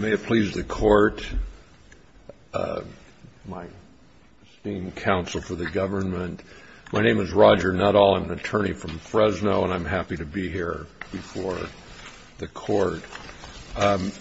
May it please the court, my esteemed counsel for the government, my name is Roger Nuttall, I'm an attorney from Fresno and I'm happy to be here before the court. I'm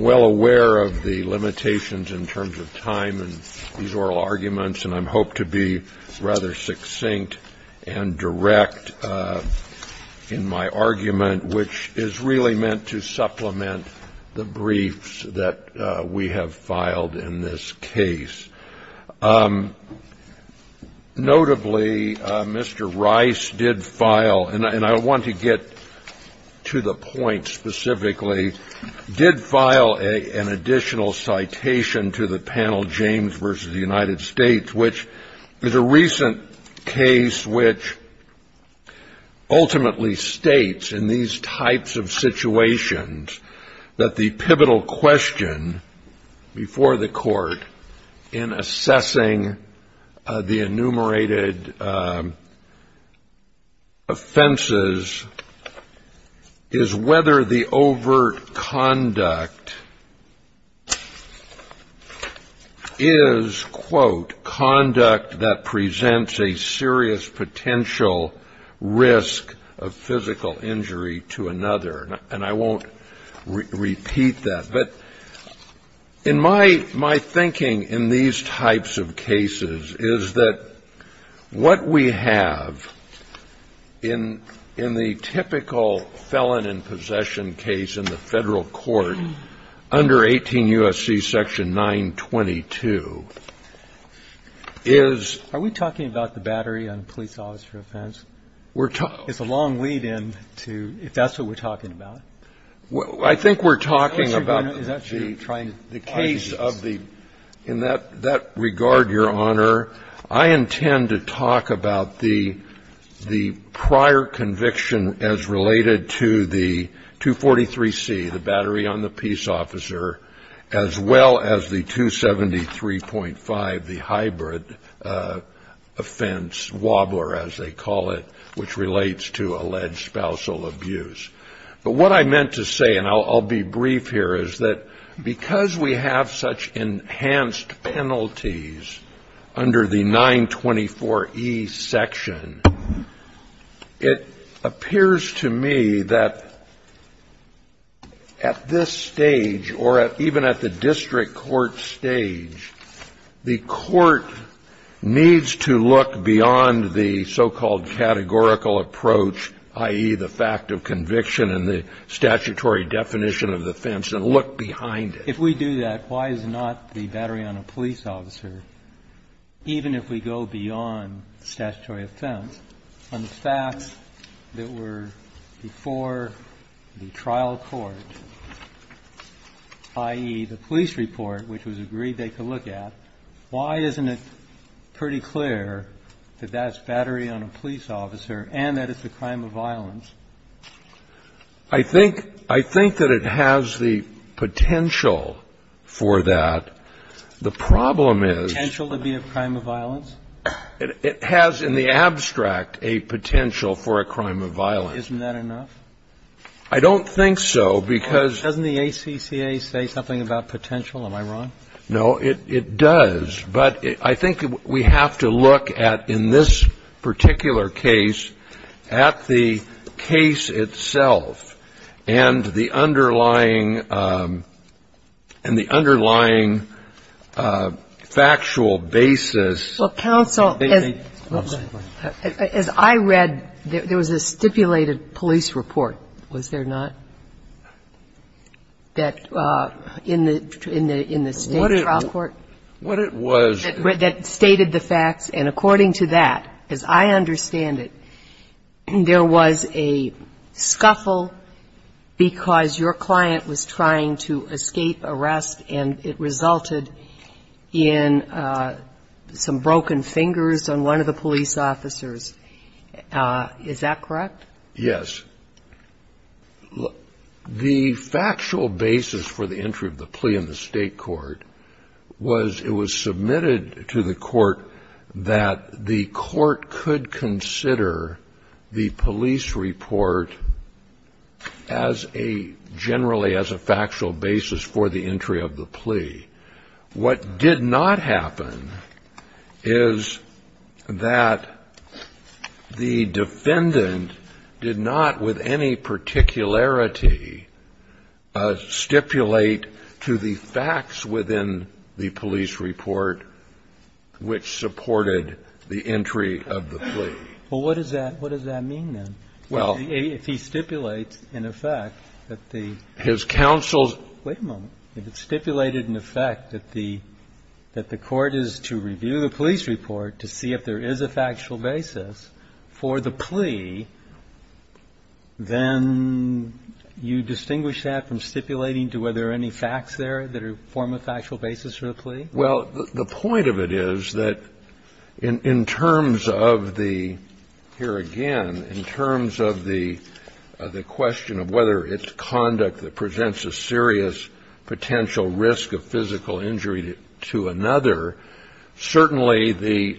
well aware of the limitations in terms of time and these oral arguments and I hope to be rather succinct and direct in my argument, which is really meant to supplement the briefs that we have filed in this case. Notably, Mr. Rice did file, and I want to get to the point specifically, did file an additional citation to the panel James v. The United States, which is a recent case which ultimately states in these types of situations that the pivotal question before the court in assessing the enumerated offenses is whether the overt conduct is, quote, conduct that presents a serious potential risk of physical injury to another. And I won't repeat that. But in my thinking in these types of cases is that what we have in the typical felon in possession case in the Federal court under 18 U.S.C. section 922 is Are we talking about the battery on police officer offense? We're talking It's a long lead in to if that's what we're talking about. I think we're talking about the case of the in that regard, Your Honor, I intend to talk about the prior conviction as related to the 243C, the battery on the peace officer, as well as the 273.5, the hybrid offense, wobbler, as they call it, which relates to alleged spousal abuse. But what I meant to say, and I'll be brief here, is that because we have such enhanced penalties under the 924E section, it appears to me that at this stage or even at the district court stage, the court needs to look beyond the so-called categorical approach, i.e., the fact of conviction and the statutory definition of defense and look behind it. If we do that, why is not the battery on a police officer, even if we go beyond statutory offense, on the fact that we're before the trial court, i.e., the police report which was agreed they could look at, why isn't it pretty clear that that's And I think that's a good question, Your Honor, and I think that's a good question. It has the potential for that. The problem is the potential to be a crime of violence? It has in the abstract a potential for a crime of violence. Isn't that enough? I don't think so, because doesn't the ACCA say something about potential? Am I wrong? No, it does. But I think we have to look at, in this particular case, at the case itself and the underlying and the underlying factual basis. Well, counsel, as I read, there was a stipulated police report, was there not, that in the state trial court? What it was that stated the facts, and according to that, as I understand it, there was a scuffle because your client was trying to escape arrest and it resulted in some broken fingers on one of the police officers. Is that correct? Yes. The factual basis for the entry of the plea in the state court was it was submitted to the court that the court could consider the police report as a, generally as a factual basis for the entry of the plea. What did not happen is that the defendant did not, with any particularity, stipulate to the facts within the police report which supported the entry of the plea. Well, what does that mean, then, if he stipulates, in effect, that the his counsel's Wait a moment. If it stipulated, in effect, that the court is to review the police report to see if there is a factual basis for the plea, then you distinguish that from stipulating to whether there are any facts there that form a factual basis for the plea? Well, the point of it is that in terms of the, here again, in terms of the question of whether it's conduct that presents a serious potential risk of physical injury to another, certainly the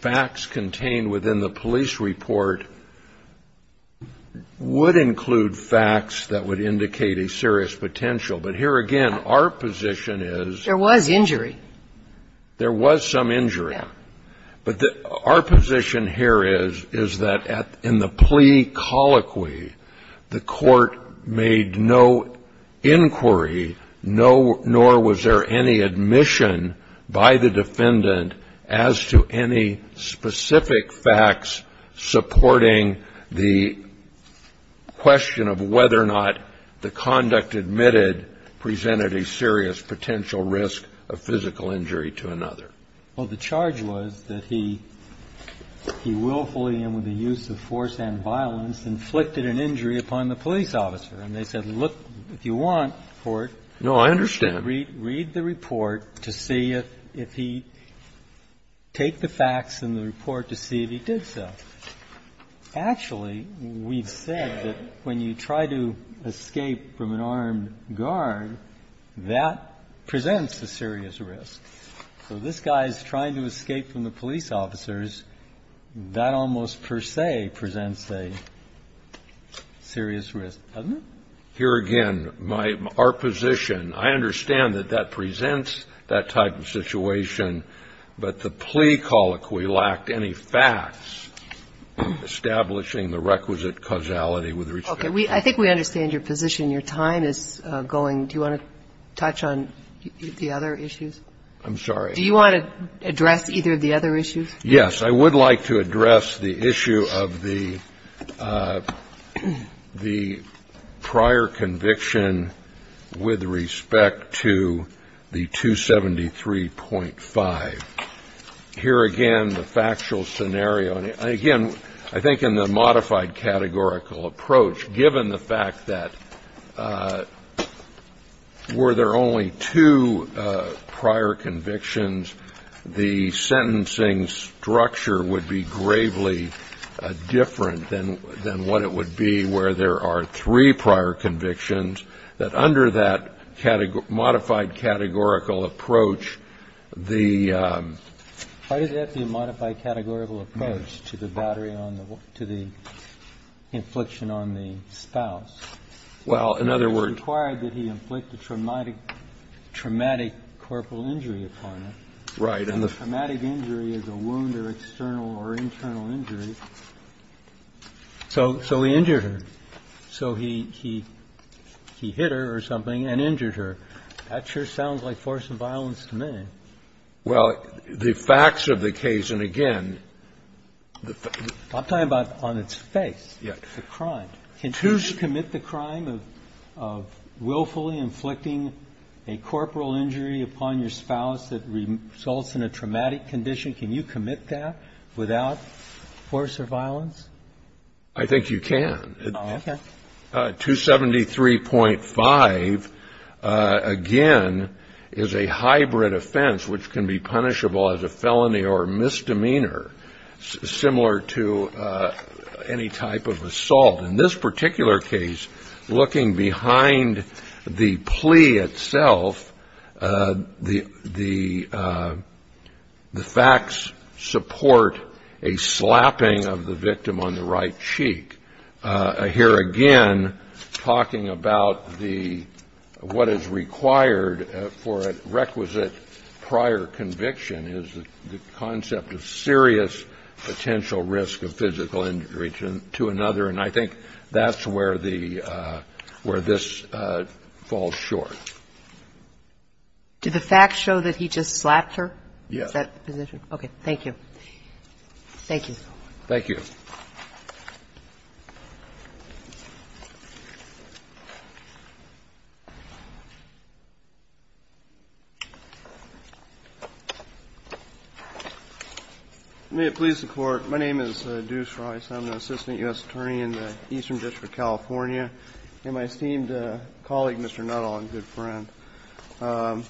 facts contained within the police report would include facts that would indicate a serious potential. But here again, our position is There was injury. There was some injury. But our position here is that in the plea colloquy, the court made no inquiry, nor was there any admission by the defendant as to any specific facts supporting the question of whether or not the conduct admitted presented a serious potential risk of physical injury to another. Well, the charge was that he willfully and with the use of force and violence inflicted an injury upon the police officer. And they said, look, if you want, court, read the report to see if he take the facts in the report to see if he did so. Actually, we've said that when you try to escape from an armed guard, that presents a serious risk. So this guy is trying to escape from the police officers. That almost per se presents a serious risk, doesn't it? Here again, my – our position, I understand that that presents that type of situation, but the plea colloquy lacked any facts establishing the requisite causality with respect to the case. Okay. I think we understand your position. Your time is going. Do you want to touch on the other issues? I'm sorry. Do you want to address either of the other issues? Yes. I would like to address the issue of the prior conviction with respect to the 273.5. Here again, the factual scenario. And again, I think in the modified categorical approach, given the fact that were there only two prior convictions, the sentencing structure would be gravely different than what it would be where there are three prior convictions, that under that modified categorical approach, the – Why did that be a modified categorical approach to the battery on the – to the infliction on the spouse? Well, in other words – Well, in other words, in other words, in other words, in other words, it's not required that he inflict a traumatic – traumatic corporal injury upon her. Right. And the – Traumatic injury is a wound or external or internal injury. So he injured her. So he hit her or something and injured her. That sure sounds like force of violence to me. Well, the facts of the case, and again, the – I'm talking about on its face, the crime. Can you commit the crime of willfully inflicting a corporal injury upon your spouse that results in a traumatic condition? Can you commit that without force or violence? I think you can. Okay. 273.5, again, is a hybrid offense, which can be punishable as a felony or misdemeanor, similar to any type of assault. In this particular case, looking behind the plea itself, the facts support a slapping of the victim on the right cheek. Here again, talking about the – what is required for a requisite prior conviction is the concept of serious potential risk of physical injury to another. And I think that's where the – where this falls short. Did the facts show that he just slapped her? Yes. Is that the position? Okay. Thank you. Thank you. Thank you. May it please the Court. My name is Deuce Rice. I'm the Assistant U.S. Attorney in the Eastern District of California. And my esteemed colleague, Mr. Nuttall, and good friend, the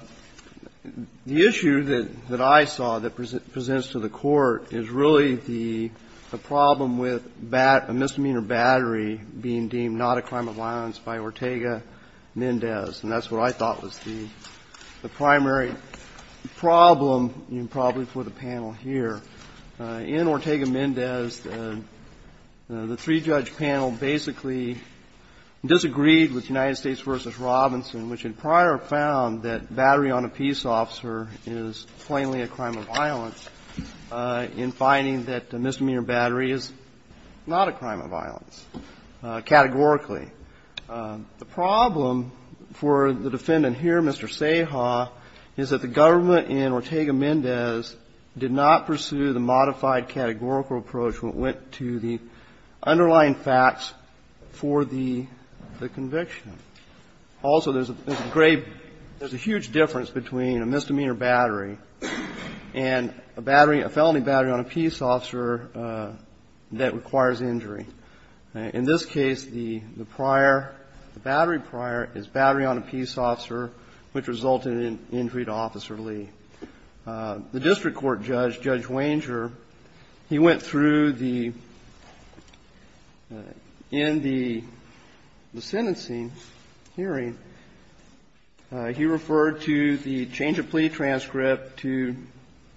issue that I saw that was the problem with a misdemeanor battery being deemed not a crime of violence by Ortega-Mendez. And that's what I thought was the primary problem, probably, for the panel here. In Ortega-Mendez, the three-judge panel basically disagreed with United States v. Robinson, which had prior found that battery on a peace officer is plainly a crime of violence in finding that a misdemeanor battery is not a crime of violence categorically. The problem for the defendant here, Mr. Seha, is that the government in Ortega-Mendez did not pursue the modified categorical approach when it went to the underlying facts for the conviction. Also, there's a great – there's a huge difference between a misdemeanor battery and a battery – a felony battery on a peace officer that requires injury. In this case, the prior – the battery prior is battery on a peace officer, which resulted in injury to Officer Lee. The district court judge, Judge Wanger, he went through the – in the sentencing hearing, he referred to the change of plea transcript to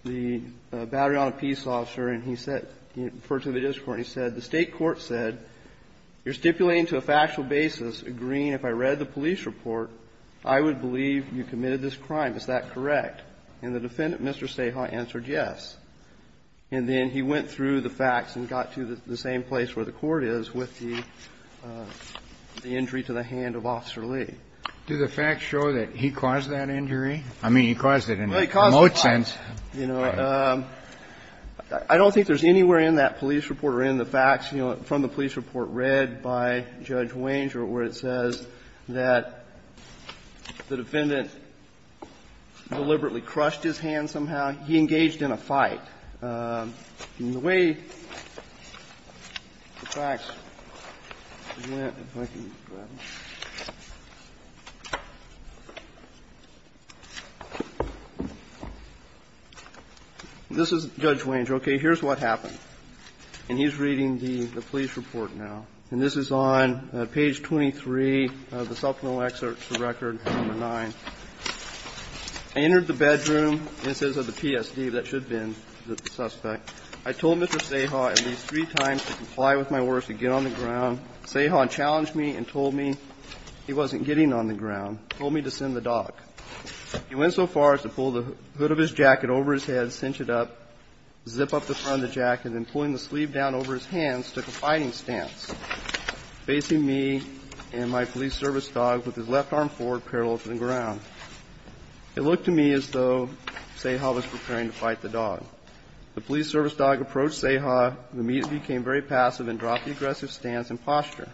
the battery on a peace officer, and he said – he referred to the district court and he said, the state court said, you're stipulating to a factual basis, agreeing, if I read the police report, I would believe you committed this crime, is that correct? And the defendant, Mr. Seha, answered yes. And then he went through the facts and got to the same place where the court is with the – the injury to the hand of Officer Lee. Do the facts show that he caused that injury? I mean, he caused it in a remote sense. Well, he caused it by – you know, I don't think there's anywhere in that police report or in the facts, you know, from the police report read by Judge Wanger where it says that the defendant deliberately crushed his hand somehow. He engaged in a fight. In the way the facts went, if I can grab it. This is Judge Wanger. Okay. Here's what happened. And he's reading the police report now. And this is on page 23 of the supplemental excerpt to the record, number 9. I entered the bedroom. This is of the PSD. That should have been the suspect. I told Mr. Seha at least three times to comply with my orders to get on the ground. Seha challenged me and told me he wasn't getting on the ground, told me to send the dog. He went so far as to pull the hood of his jacket over his head, cinch it up, zip up the front of the jacket, and then pulling the sleeve down over his hands, took a fighting stance, facing me and my police service dog with his left arm forward parallel to the ground. It looked to me as though Seha was preparing to fight the dog. The police service dog approached Seha, who immediately became very passive and dropped the aggressive stance and posture.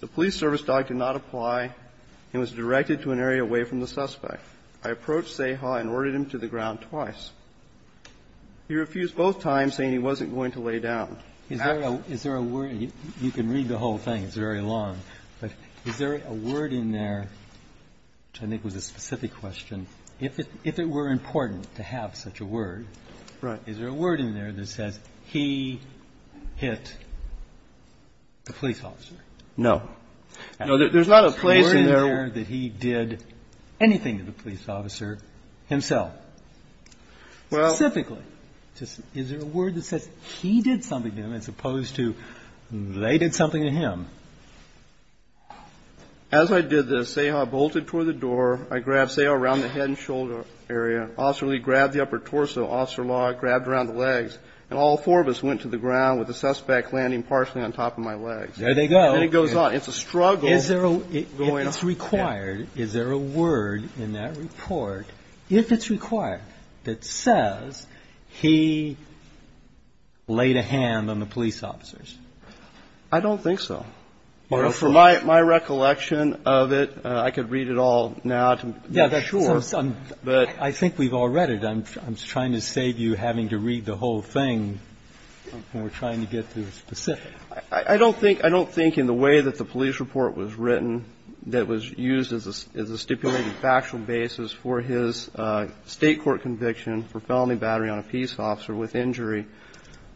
The police service dog did not apply and was directed to an area away from the suspect. I approached Seha and ordered him to the ground twice. He refused both times, saying he wasn't going to lay down. Is there a word? You can read the whole thing. It's very long. But is there a word in there, which I think was a specific question, if it were important to have such a word, is there a word in there that says he hit the police officer? No. No, there's not a place in there. Is there a word in there that he did anything to the police officer himself? Well. Specifically. Is there a word that says he did something to him as opposed to they did something to him? As I did this, Seha bolted toward the door. I grabbed Seha around the head and shoulder area. Officer Lee grabbed the upper torso. Officer Law grabbed around the legs. And all four of us went to the ground with the suspect landing partially on top of my legs. There they go. And it goes on. It's a struggle. If it's required, is there a word in that report, if it's required, that says he laid a hand on the police officers? I don't think so. My recollection of it, I could read it all now to be sure. I think we've all read it. I'm trying to save you having to read the whole thing when we're trying to get to the specifics. I don't think in the way that the police report was written that was used as a stipulated factual basis for his State court conviction for felony battery on a peace officer with injury,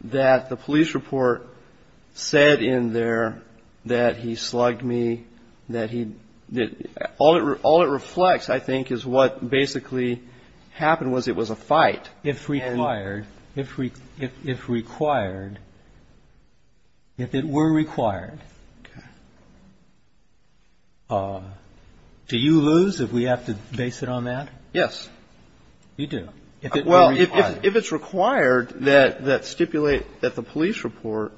that the police report said in there that he slugged me. All it reflects, I think, is what basically happened was it was a fight. If required, if it were required, do you lose if we have to base it on that? Yes. You do? Well, if it's required that stipulate that the police report,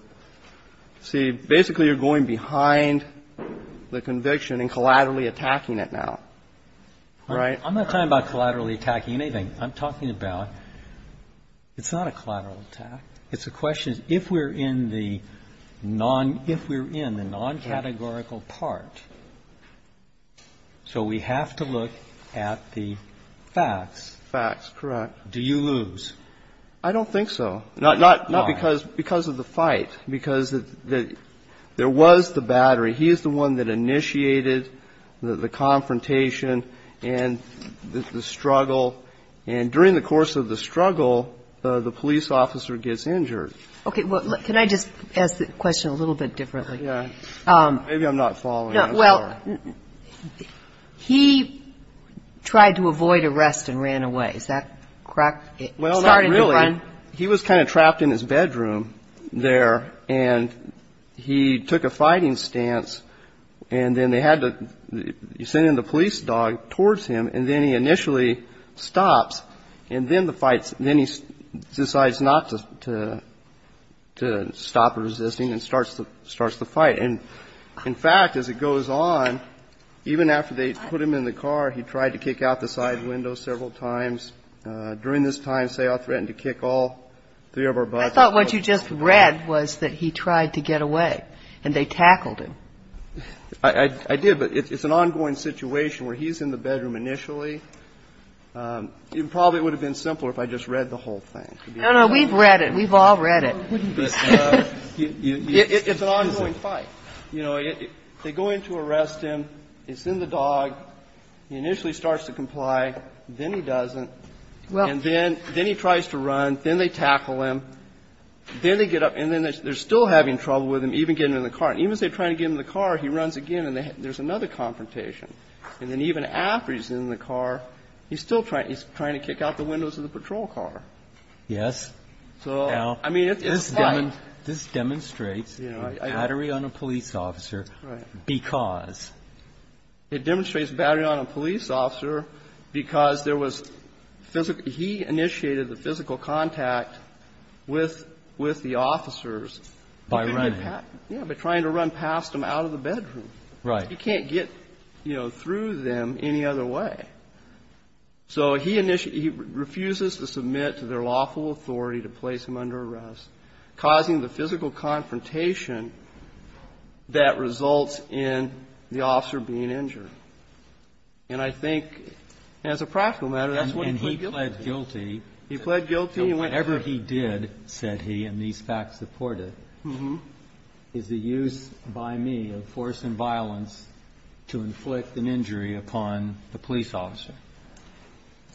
see, basically you're going behind the conviction and collaterally attacking it now. Right? I'm not talking about collaterally attacking anything. I'm talking about it's not a collateral attack. It's a question if we're in the non-categorical part. So we have to look at the facts. Facts, correct. Do you lose? I don't think so. Not because of the fight. Because there was the battery. He is the one that initiated the confrontation and the struggle. And during the course of the struggle, the police officer gets injured. Okay. Can I just ask the question a little bit differently? Yeah. Maybe I'm not following. Well, he tried to avoid arrest and ran away. Is that correct? Well, not really. It started to run. He was kind of trapped in his bedroom there, and he took a fighting stance, and then they had to send in the police dog towards him, and then he initially stops, and then he decides not to stop resisting and starts the fight. In fact, as it goes on, even after they put him in the car, he tried to kick out the side window several times. During this time, say, I'll threaten to kick all three of our butts. I thought what you just read was that he tried to get away, and they tackled him. I did, but it's an ongoing situation where he's in the bedroom initially. It probably would have been simpler if I just read the whole thing. No, no. We've read it. We've all read it. It's an ongoing fight. They go in to arrest him. They send the dog. He initially starts to comply. Then he doesn't, and then he tries to run. Then they tackle him. Then they get up, and then they're still having trouble with him, even getting in the car. Even as they're trying to get in the car, he runs again, and there's another confrontation. And then even after he's in the car, he's still trying to kick out the windows of the patrol car. Yes. I mean, it's a fight. This demonstrates a battery on a police officer because? It demonstrates a battery on a police officer because he initiated the physical contact with the officers. By running? Yeah, by trying to run past them out of the bedroom. Right. He can't get through them any other way. So he refuses to submit to their lawful authority to place him under arrest, causing the physical confrontation that results in the officer being injured. And I think as a practical matter, that's what he did. And he pled guilty. He pled guilty. Whatever he did, said he, and these facts support it, is the use by me of force and violence to inflict an injury upon the police officer.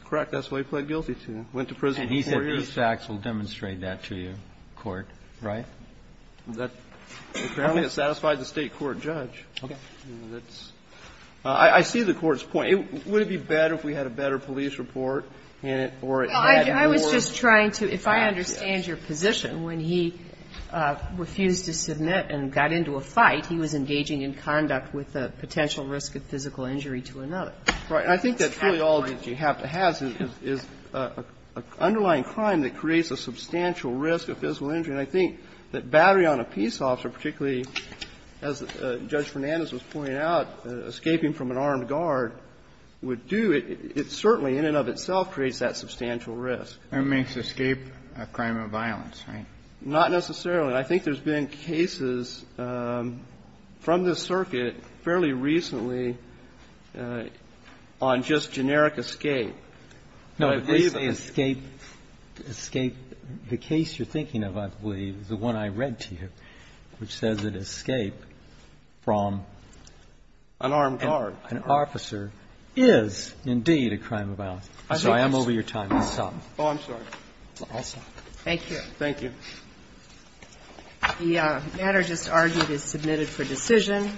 Correct. That's what he pled guilty to. Went to prison for four years. And he said these facts will demonstrate that to you, court. Right? That apparently has satisfied the State court judge. Okay. I see the court's point. Would it be better if we had a better police report or it had more? I was just trying to, if I understand your position, when he refused to submit and got into a fight, he was engaging in conduct with a potential risk of physical injury to another. Right. And I think that's really all that you have to have is an underlying crime that creates a substantial risk of physical injury. And I think that battery on a peace officer, particularly as Judge Fernandez was pointing out, escaping from an armed guard would do it. It certainly, in and of itself, creates that substantial risk. It makes escape a crime of violence, right? Not necessarily. I think there's been cases from the circuit fairly recently on just generic escape. No. The case you're thinking of, I believe, is the one I read to you, which says that escape from an armed guard, an officer, is indeed a crime of violence. I'm sorry. I'm over your time. I'll stop. Oh, I'm sorry. I'll stop. Thank you. Thank you. The matter just argued is submitted for decision.